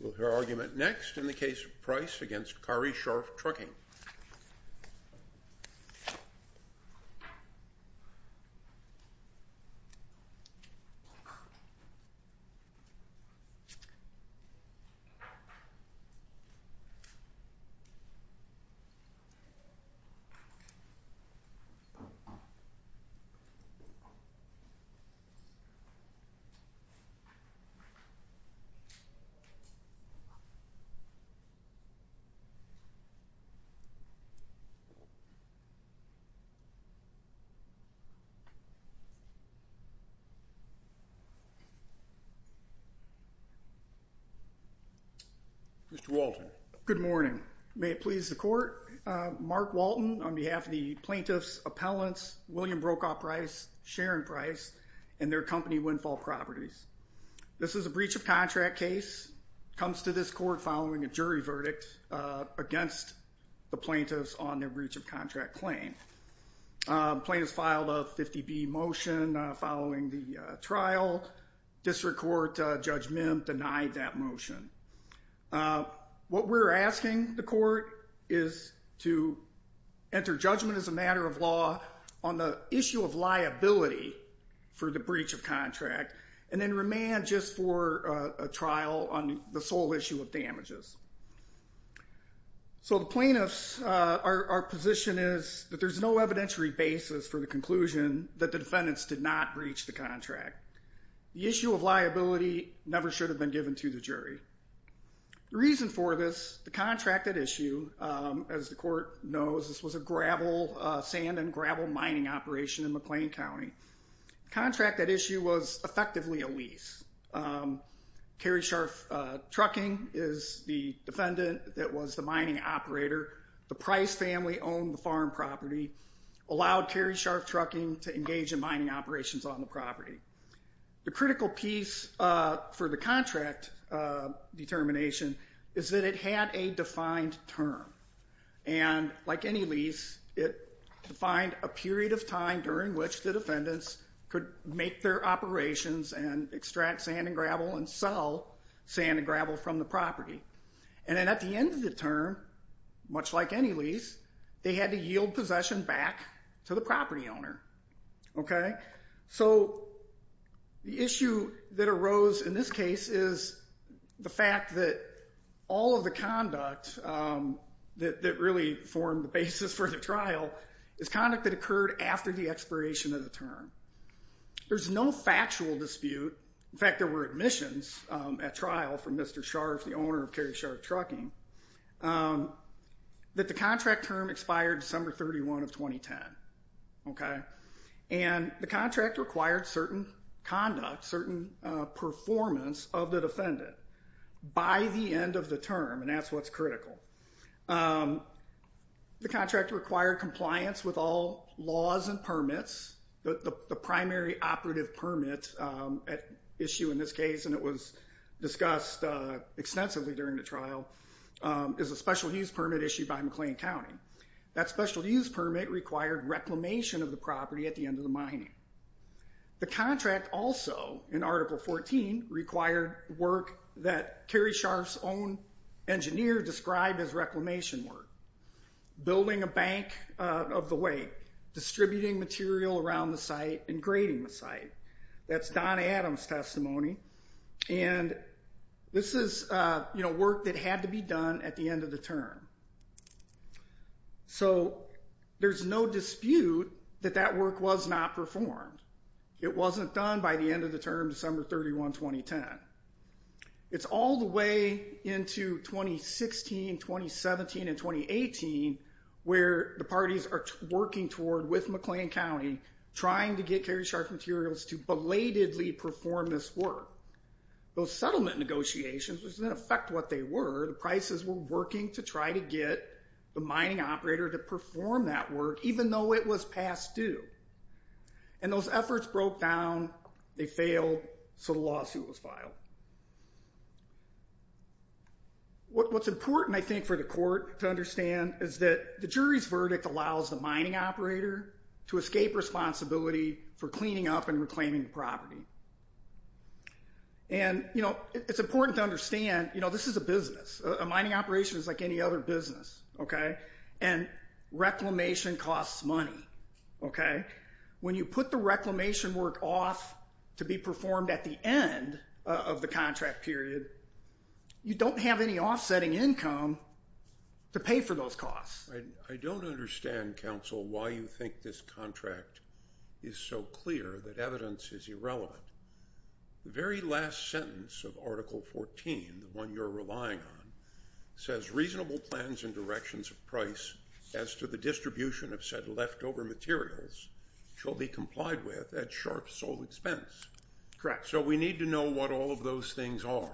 We'll hear argument next in the case of Price v. Carri Scharf Trucking. Mr. Walton. Good morning. May it please the court, Mark Walton on behalf of the plaintiff's appellants, William Brokaw Price, Sharon Price, and their company Windfall Properties. This is a breach of contract case, comes to this court following a jury verdict against the plaintiffs on their breach of contract claim. Plaintiffs filed a 50B motion following the trial. District Court Judge Mim denied that motion. What we're asking the court is to enter judgment as a matter of law on the issue of liability for the breach of contract, and then remand just for a trial on the sole issue of damages. So the plaintiffs, our position is that there's no evidentiary basis for the conclusion that the defendants did not breach the contract. The issue of liability never should have been given to the jury. The reason for this, the contract at issue, as the court knows, this was a gravel, sand and gravel mining operation in McLean County. The contract at issue was effectively a lease. Keri Scharf Trucking is the defendant that was the mining operator. The Price family owned the farm property, allowed Keri Scharf Trucking to engage in mining operations on the property. The critical piece for the contract determination is that it had a defined term. And like any lease, it defined a period of time during which the defendants could make their operations and extract sand and gravel and sell sand and gravel from the property. And then at the end of the term, much like any lease, they had to yield possession back to the property owner. So the issue that arose in this case is the fact that all of the conduct that really formed the basis for the trial is conduct that occurred after the expiration of the term. There's no factual dispute, in fact there were admissions at trial from Mr. Scharf, the owner of Keri Scharf Trucking, that the contract term expired December 31 of 2010. And the contract required certain conduct, certain performance of the defendant by the end of the term, and that's what's critical. The contract required compliance with all laws and permits. The primary operative permit at issue in this case, and it was discussed extensively during the trial, is a special use permit issued by McLean County. That special use permit required reclamation of the property at the end of the mining. The contract also, in Article 14, required work that Keri Scharf's own engineer described as reclamation work. Building a bank of the way, distributing material around the site, and grading the site. That's Don Adams' testimony, and this is work that had to be done at the end of the term. So there's no dispute that that work was not performed. It wasn't done by the end of the term, December 31, 2010. It's all the way into 2016, 2017, and 2018 where the parties are working toward, with McLean County, trying to get Keri Scharf Materials to belatedly perform this work. Those settlement negotiations, which didn't affect what they were, the prices were working to try to get the mining operator to perform that work, even though it was past due. And those efforts broke down, they failed, so the lawsuit was filed. What's important, I think, for the court to understand is that the jury's verdict allows the mining operator to escape responsibility for cleaning up and reclaiming the property. And it's important to understand, this is a business. A mining operation is like any other business, okay? And reclamation costs money, okay? When you put the reclamation work off to be performed at the end of the contract period, you don't have any offsetting income to pay for those costs. I don't understand, counsel, why you think this contract is so clear that evidence is irrelevant. The very last sentence of Article 14, the one you're relying on, says reasonable plans and directions of price as to the distribution of said leftover materials shall be complied with at sharp sole expense. Correct. So we need to know what all of those things are,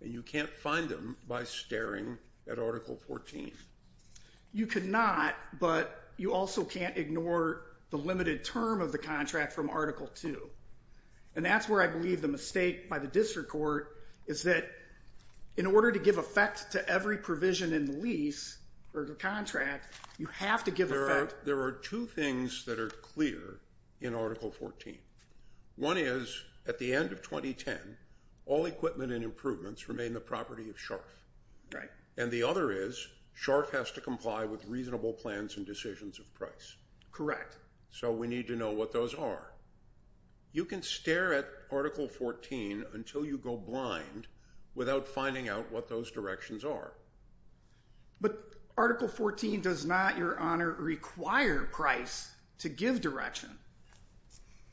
and you can't find them by staring at Article 14. You cannot, but you also can't ignore the limited term of the contract from Article 2. And that's where I believe the mistake by the district court is that in order to give effect to every provision in the lease or the contract, you have to give effect. There are two things that are clear in Article 14. One is, at the end of 2010, all equipment and improvements remain the property of Sharff. And the other is, Sharff has to comply with reasonable plans and decisions of price. Correct. So we need to know what those are. You can stare at Article 14 until you go blind without finding out what those directions are. But Article 14 does not, Your Honor, require price to give direction.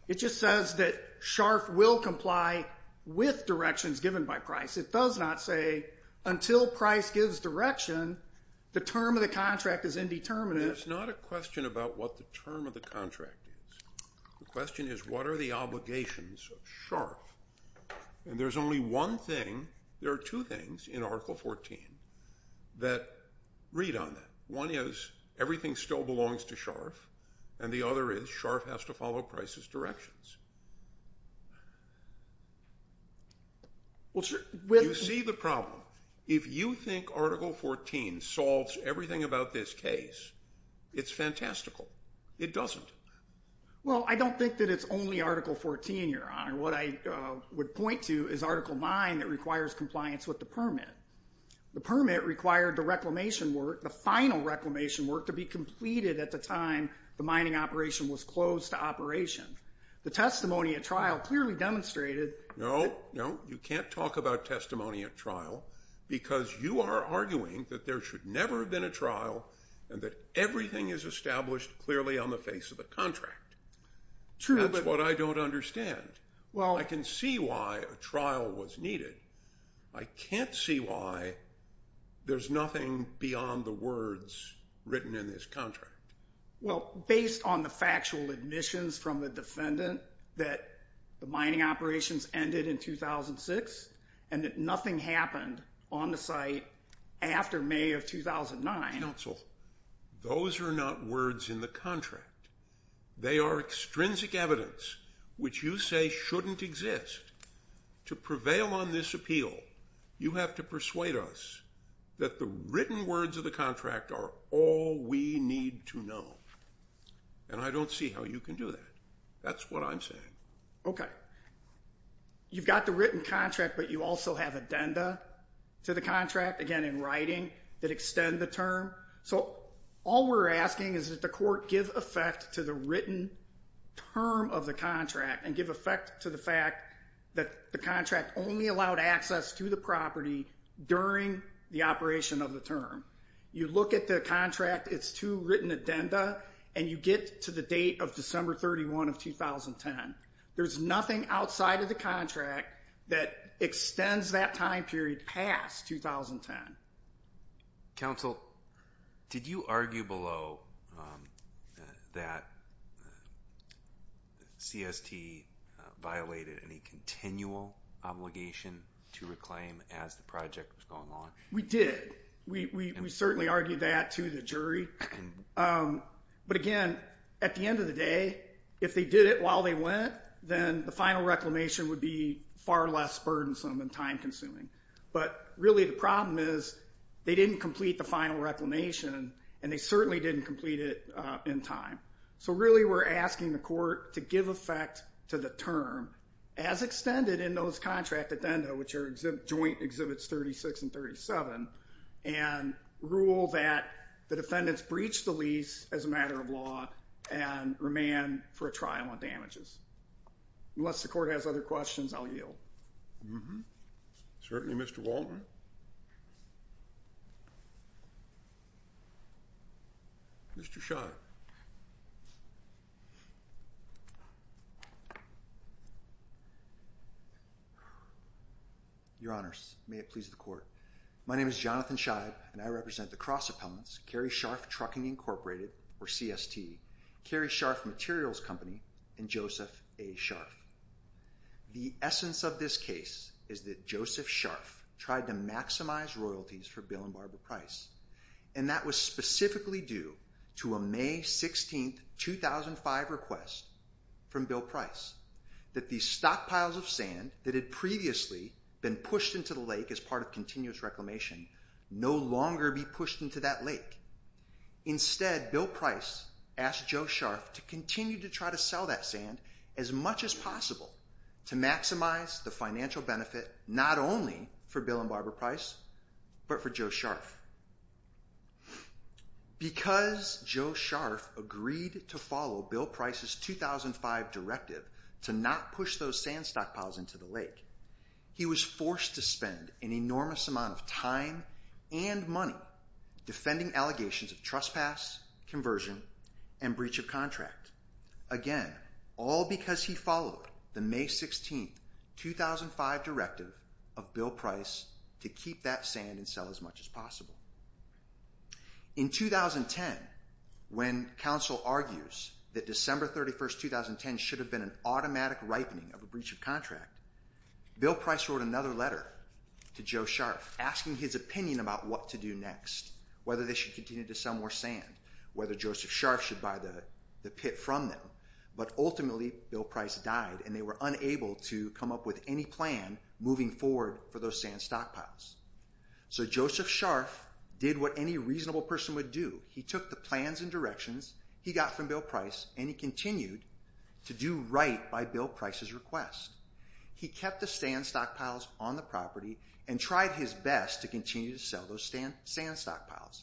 It just says that Sharff will comply with directions given by price. It does not say, until price gives direction, the term of the contract is indeterminate. There's not a question about what the term of the contract is. The question is, what are the obligations of Sharff? And there's only one thing, there are two things in Article 14 that read on that. One is, everything still belongs to Sharff. And the other is, Sharff has to follow price's directions. You see the problem. If you think Article 14 solves everything about this case, it's fantastical. It doesn't. Well, I don't think that it's only Article 14, Your Honor. What I would point to is Article 9 that requires compliance with the permit. The permit required the reclamation work, the final reclamation work, to be completed at the time the mining operation was closed to operation. The testimony at trial clearly demonstrated that... No, no, you can't talk about testimony at trial because you are arguing that there should never have been a trial and that everything is established clearly on the face of the contract. True, but... That's what I don't understand. Well... I can see why a trial was needed. I can't see why there's nothing beyond the words written in this contract. Well, based on the factual admissions from the defendant that the mining operations ended in 2006 and that nothing happened on the site after May of 2009... Counsel, those are not words in the contract. They are extrinsic evidence which you say shouldn't exist. To prevail on this appeal, you have to persuade us that the written words of the contract are all we need to know, and I don't see how you can do that. That's what I'm saying. Okay. You've got the written contract, but you also have addenda to the contract, again, in writing that extend the term. So all we're asking is that the court give effect to the written term of the contract and give effect to the fact that the contract only allowed access to the property during the operation of the term. You look at the contract, it's two written addenda, and you get to the date of December 31 of 2010. There's nothing outside of the contract that extends that time period past 2010. Counsel, did you argue below that CST violated any continual obligation to reclaim as the project was going along? We did. We certainly argued that to the jury. But again, at the end of the day, if they did it while they went, then the final reclamation would be far less burdensome and time consuming. But really the problem is they didn't complete the final reclamation, and they certainly didn't complete it in time. So really we're asking the court to give effect to the term as extended in those contract addenda, which are joint exhibits 36 and 37, and rule that the defendants breached the lease as a matter of law and remand for a trial on damages. Unless the court has other questions, I'll yield. Certainly, Mr. Waldron. Mr. Schott. Your Honors, may it please the court. My name is Jonathan Scheib, and I represent the Cross Appellants, Cary Scharf Trucking Incorporated, or CST, Cary Scharf Materials Company, and Joseph A. Scharf. The essence of this case is that Joseph Scharf tried to maximize royalties for Bill and Barbara Price, and that was specifically due to a May 16, 2005 request from Bill Price that the stockpiles of sand that had previously been pushed into the lake as part of continuous reclamation no longer be pushed into that lake. Instead, Bill Price asked Joe Scharf to continue to try to sell that sand as much as possible to maximize the financial benefit, not only for Bill and Barbara Price, but for Joe Scharf. Because Joe Scharf agreed to follow Bill Price's 2005 directive to not push those sand stockpiles into the lake, he was forced to spend an enormous amount of time and money defending allegations of trespass, conversion, and breach of contract. Again, all because he followed the May 16, 2005 directive of Bill Price to keep that sand and sell as much as possible. In 2010, when counsel argues that December 31, 2010 should have been an automatic ripening of a breach of contract, Bill Price wrote another letter to Joe Scharf asking his opinion about what to do next, whether they should continue to sell more sand, whether Joseph Scharf should buy the pit from them, but ultimately Bill Price died and they were unable to come up with any plan moving forward for those sand stockpiles. So Joseph Scharf did what any reasonable person would do. He took the plans and directions he got from Bill Price and he continued to do right by Bill Price's request. He kept the sand stockpiles on the property and tried his best to continue to sell those sand stockpiles.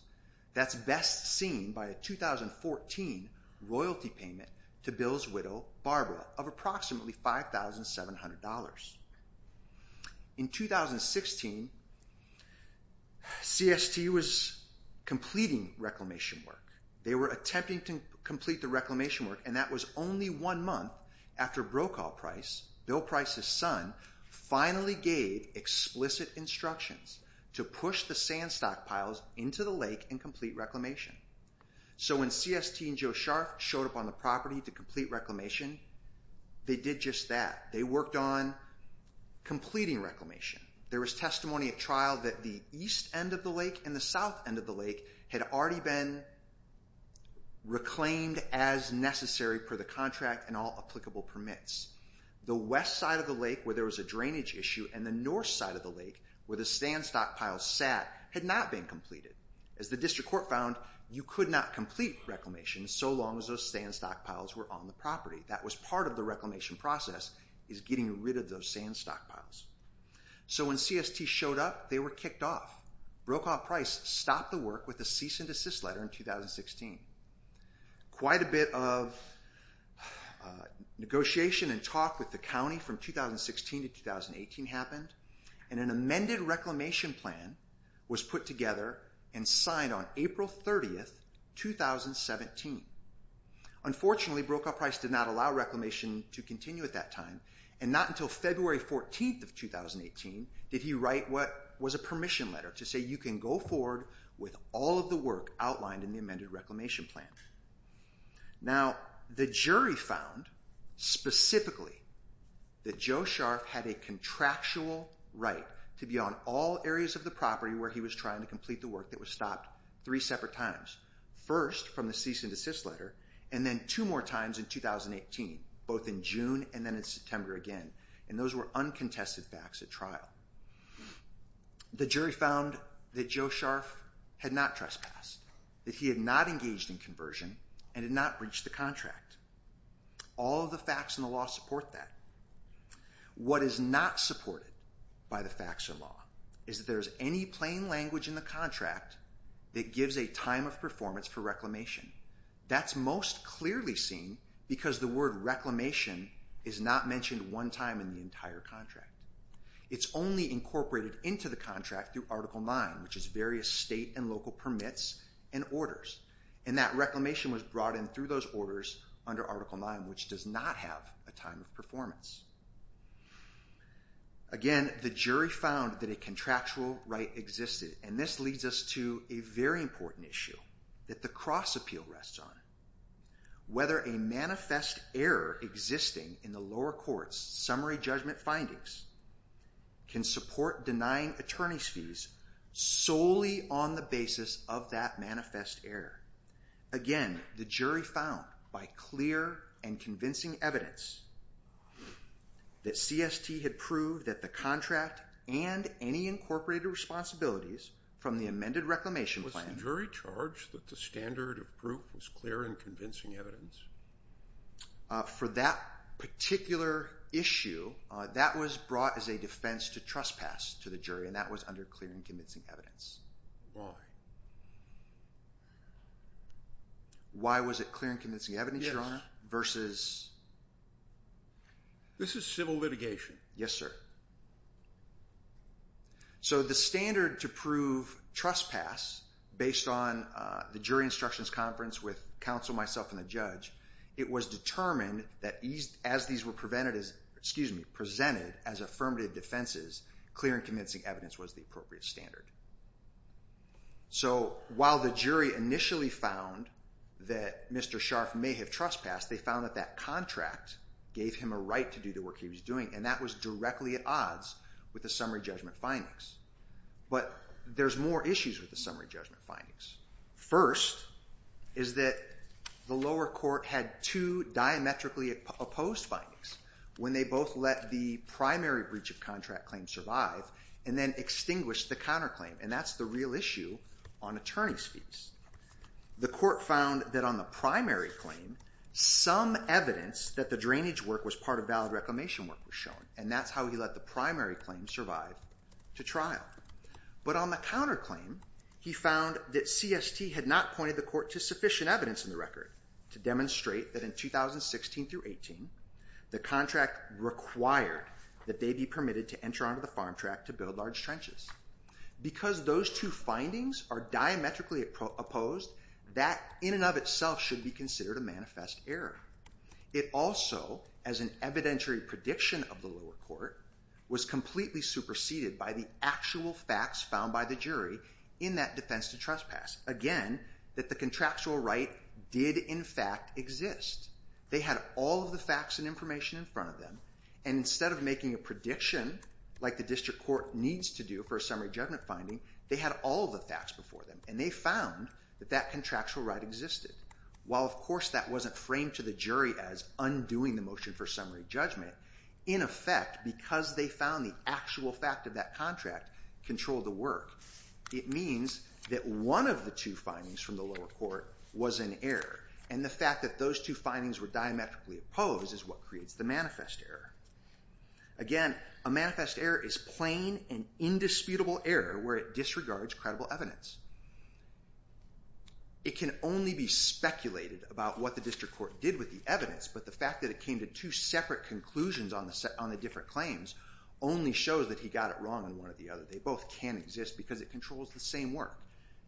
That's best seen by a 2014 royalty payment to Bill's widow, Barbara, of approximately $5,700. In 2016, CST was completing reclamation work. They were attempting to complete the reclamation work and that was only one month after Brokaw Price, Bill Price's son, finally gave explicit instructions to push the sand stockpiles into the lake and complete reclamation. So when CST and Joe Scharf showed up on the property to complete reclamation, they did just that. They worked on completing reclamation. There was testimony at trial that the east end of the lake and the south end of the lake had already been reclaimed as necessary per the contract and all applicable permits. The west side of the lake where there was a drainage issue and the north side of the As the district court found, you could not complete reclamation so long as those sand stockpiles were on the property. That was part of the reclamation process is getting rid of those sand stockpiles. So when CST showed up, they were kicked off. Brokaw Price stopped the work with a cease and desist letter in 2016. Quite a bit of negotiation and talk with the county from 2016 to 2018 happened and an amended reclamation plan was put together and signed on April 30th, 2017. Unfortunately, Brokaw Price did not allow reclamation to continue at that time and not until February 14th of 2018 did he write what was a permission letter to say you can go forward with all of the work outlined in the amended reclamation plan. Now, the jury found specifically that Joe Scharf had a contractual right to be on all areas of the property where he was trying to complete the work that was stopped three separate times. First from the cease and desist letter and then two more times in 2018, both in June and then in September again. And those were uncontested facts at trial. Now, the jury found that Joe Scharf had not trespassed, that he had not engaged in conversion and had not breached the contract. All of the facts in the law support that. What is not supported by the facts of law is that there is any plain language in the contract that gives a time of performance for reclamation. That's most clearly seen because the word reclamation is not mentioned one time in the entire contract. It's only incorporated into the contract through Article IX, which is various state and local permits and orders. And that reclamation was brought in through those orders under Article IX, which does not have a time of performance. Again, the jury found that a contractual right existed. And this leads us to a very important issue that the cross appeal rests on. Whether a manifest error existing in the lower court's summary judgment findings can support denying attorney's fees solely on the basis of that manifest error. Again, the jury found by clear and convincing evidence that CST had proved that the contract and any incorporated responsibilities from the amended reclamation plan... Did the jury charge that the standard of proof was clear and convincing evidence? For that particular issue, that was brought as a defense to trespass to the jury, and that was under clear and convincing evidence. Why? Why was it clear and convincing evidence, Your Honor, versus... This is civil litigation. Yes, sir. So the standard to prove trespass, based on the jury instructions conference with counsel, myself, and the judge, it was determined that as these were presented as affirmative defenses, clear and convincing evidence was the appropriate standard. So while the jury initially found that Mr. Scharf may have trespassed, they found that that contract gave him a right to do the work he was doing, and that was directly at odds with the summary judgment findings. But there's more issues with the summary judgment findings. First is that the lower court had two diametrically opposed findings when they both let the primary breach of contract claim survive and then extinguished the counterclaim, and that's the real issue on attorney's fees. The court found that on the primary claim, some evidence that the drainage work was part of valid reclamation work was shown, and that's how he let the primary claim survive to trial. But on the counterclaim, he found that CST had not pointed the court to sufficient evidence in the record to demonstrate that in 2016 through 18, the contract required that they be permitted to enter onto the farm track to build large trenches. Because those two findings are diametrically opposed, that in and of itself should be considered a manifest error. It also, as an evidentiary prediction of the lower court, was completely superseded by the actual facts found by the jury in that defense to trespass. Again, that the contractual right did in fact exist. They had all of the facts and information in front of them, and instead of making a prediction like the district court needs to do for a summary judgment finding, they had all of the facts before them, and they found that that contractual right existed. While of course that wasn't framed to the jury as undoing the motion for summary judgment, in effect, because they found the actual fact of that contract controlled the work, it means that one of the two findings from the lower court was an error, and the fact that those two findings were diametrically opposed is what creates the manifest error. Again, a manifest error is plain and indisputable error where it disregards credible evidence. It can only be speculated about what the district court did with the evidence, but the fact that it came to two separate conclusions on the different claims only shows that he got it wrong on one or the other. They both can't exist because it controls the same work.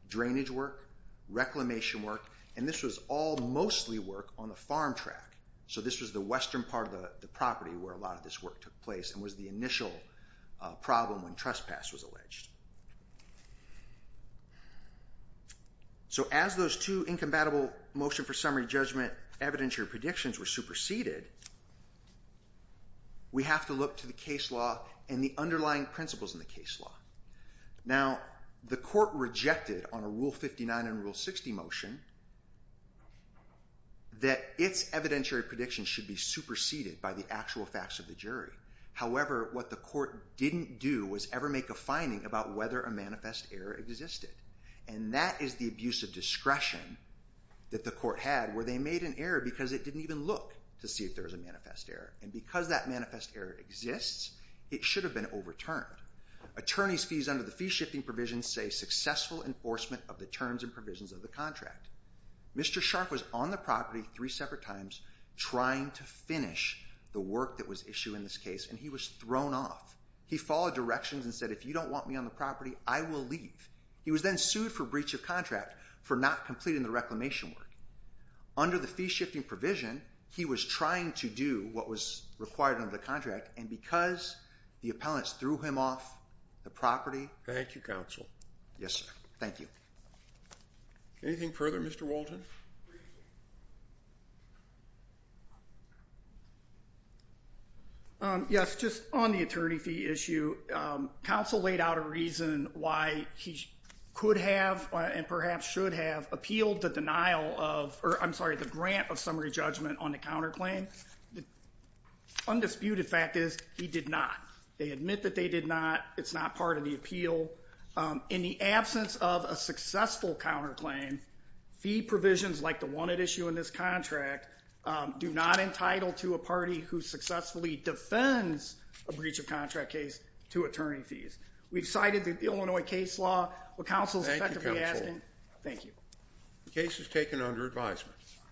Drainage work, reclamation work, and this was all mostly work on the farm track. So this was the western part of the property where a lot of this work took place and was the initial problem when trespass was alleged. So as those two incompatible motion for summary judgment evidentiary predictions were superseded, we have to look to the case law and the underlying principles in the case law. Now, the court rejected on a Rule 59 and Rule 60 motion that its evidentiary predictions should be superseded by the actual facts of the jury. However, what the court didn't do was ever make a finding about whether a manifest error existed. And that is the abuse of discretion that the court had where they made an error because it didn't even look to see if there was a manifest error. And because that manifest error exists, it should have been overturned. Attorneys' fees under the fee-shifting provisions say successful enforcement of the terms and provisions of the contract. Mr. Shark was on the property three separate times trying to finish the work that was issued in this case and he was thrown off. He followed directions and said, if you don't want me on the property, I will leave. He was then sued for breach of contract for not completing the reclamation work. Under the fee-shifting provision, he was trying to do what was required under the contract and because the appellants threw him off the property. Thank you, counsel. Yes, sir. Thank you. Anything further, Mr. Walton? Yes, just on the attorney fee issue. Counsel laid out a reason why he could have and perhaps should have appealed the denial of, or I'm sorry, the grant of summary judgment on the counterclaim. Undisputed fact is he did not. They admit that they did not. It's not part of the appeal. In the absence of a successful counterclaim, fee provisions like the one at issue in this defends a breach of contract case to attorney fees. We've cited the Illinois case law. Thank you, counsel. Thank you. The case is taken under advisement.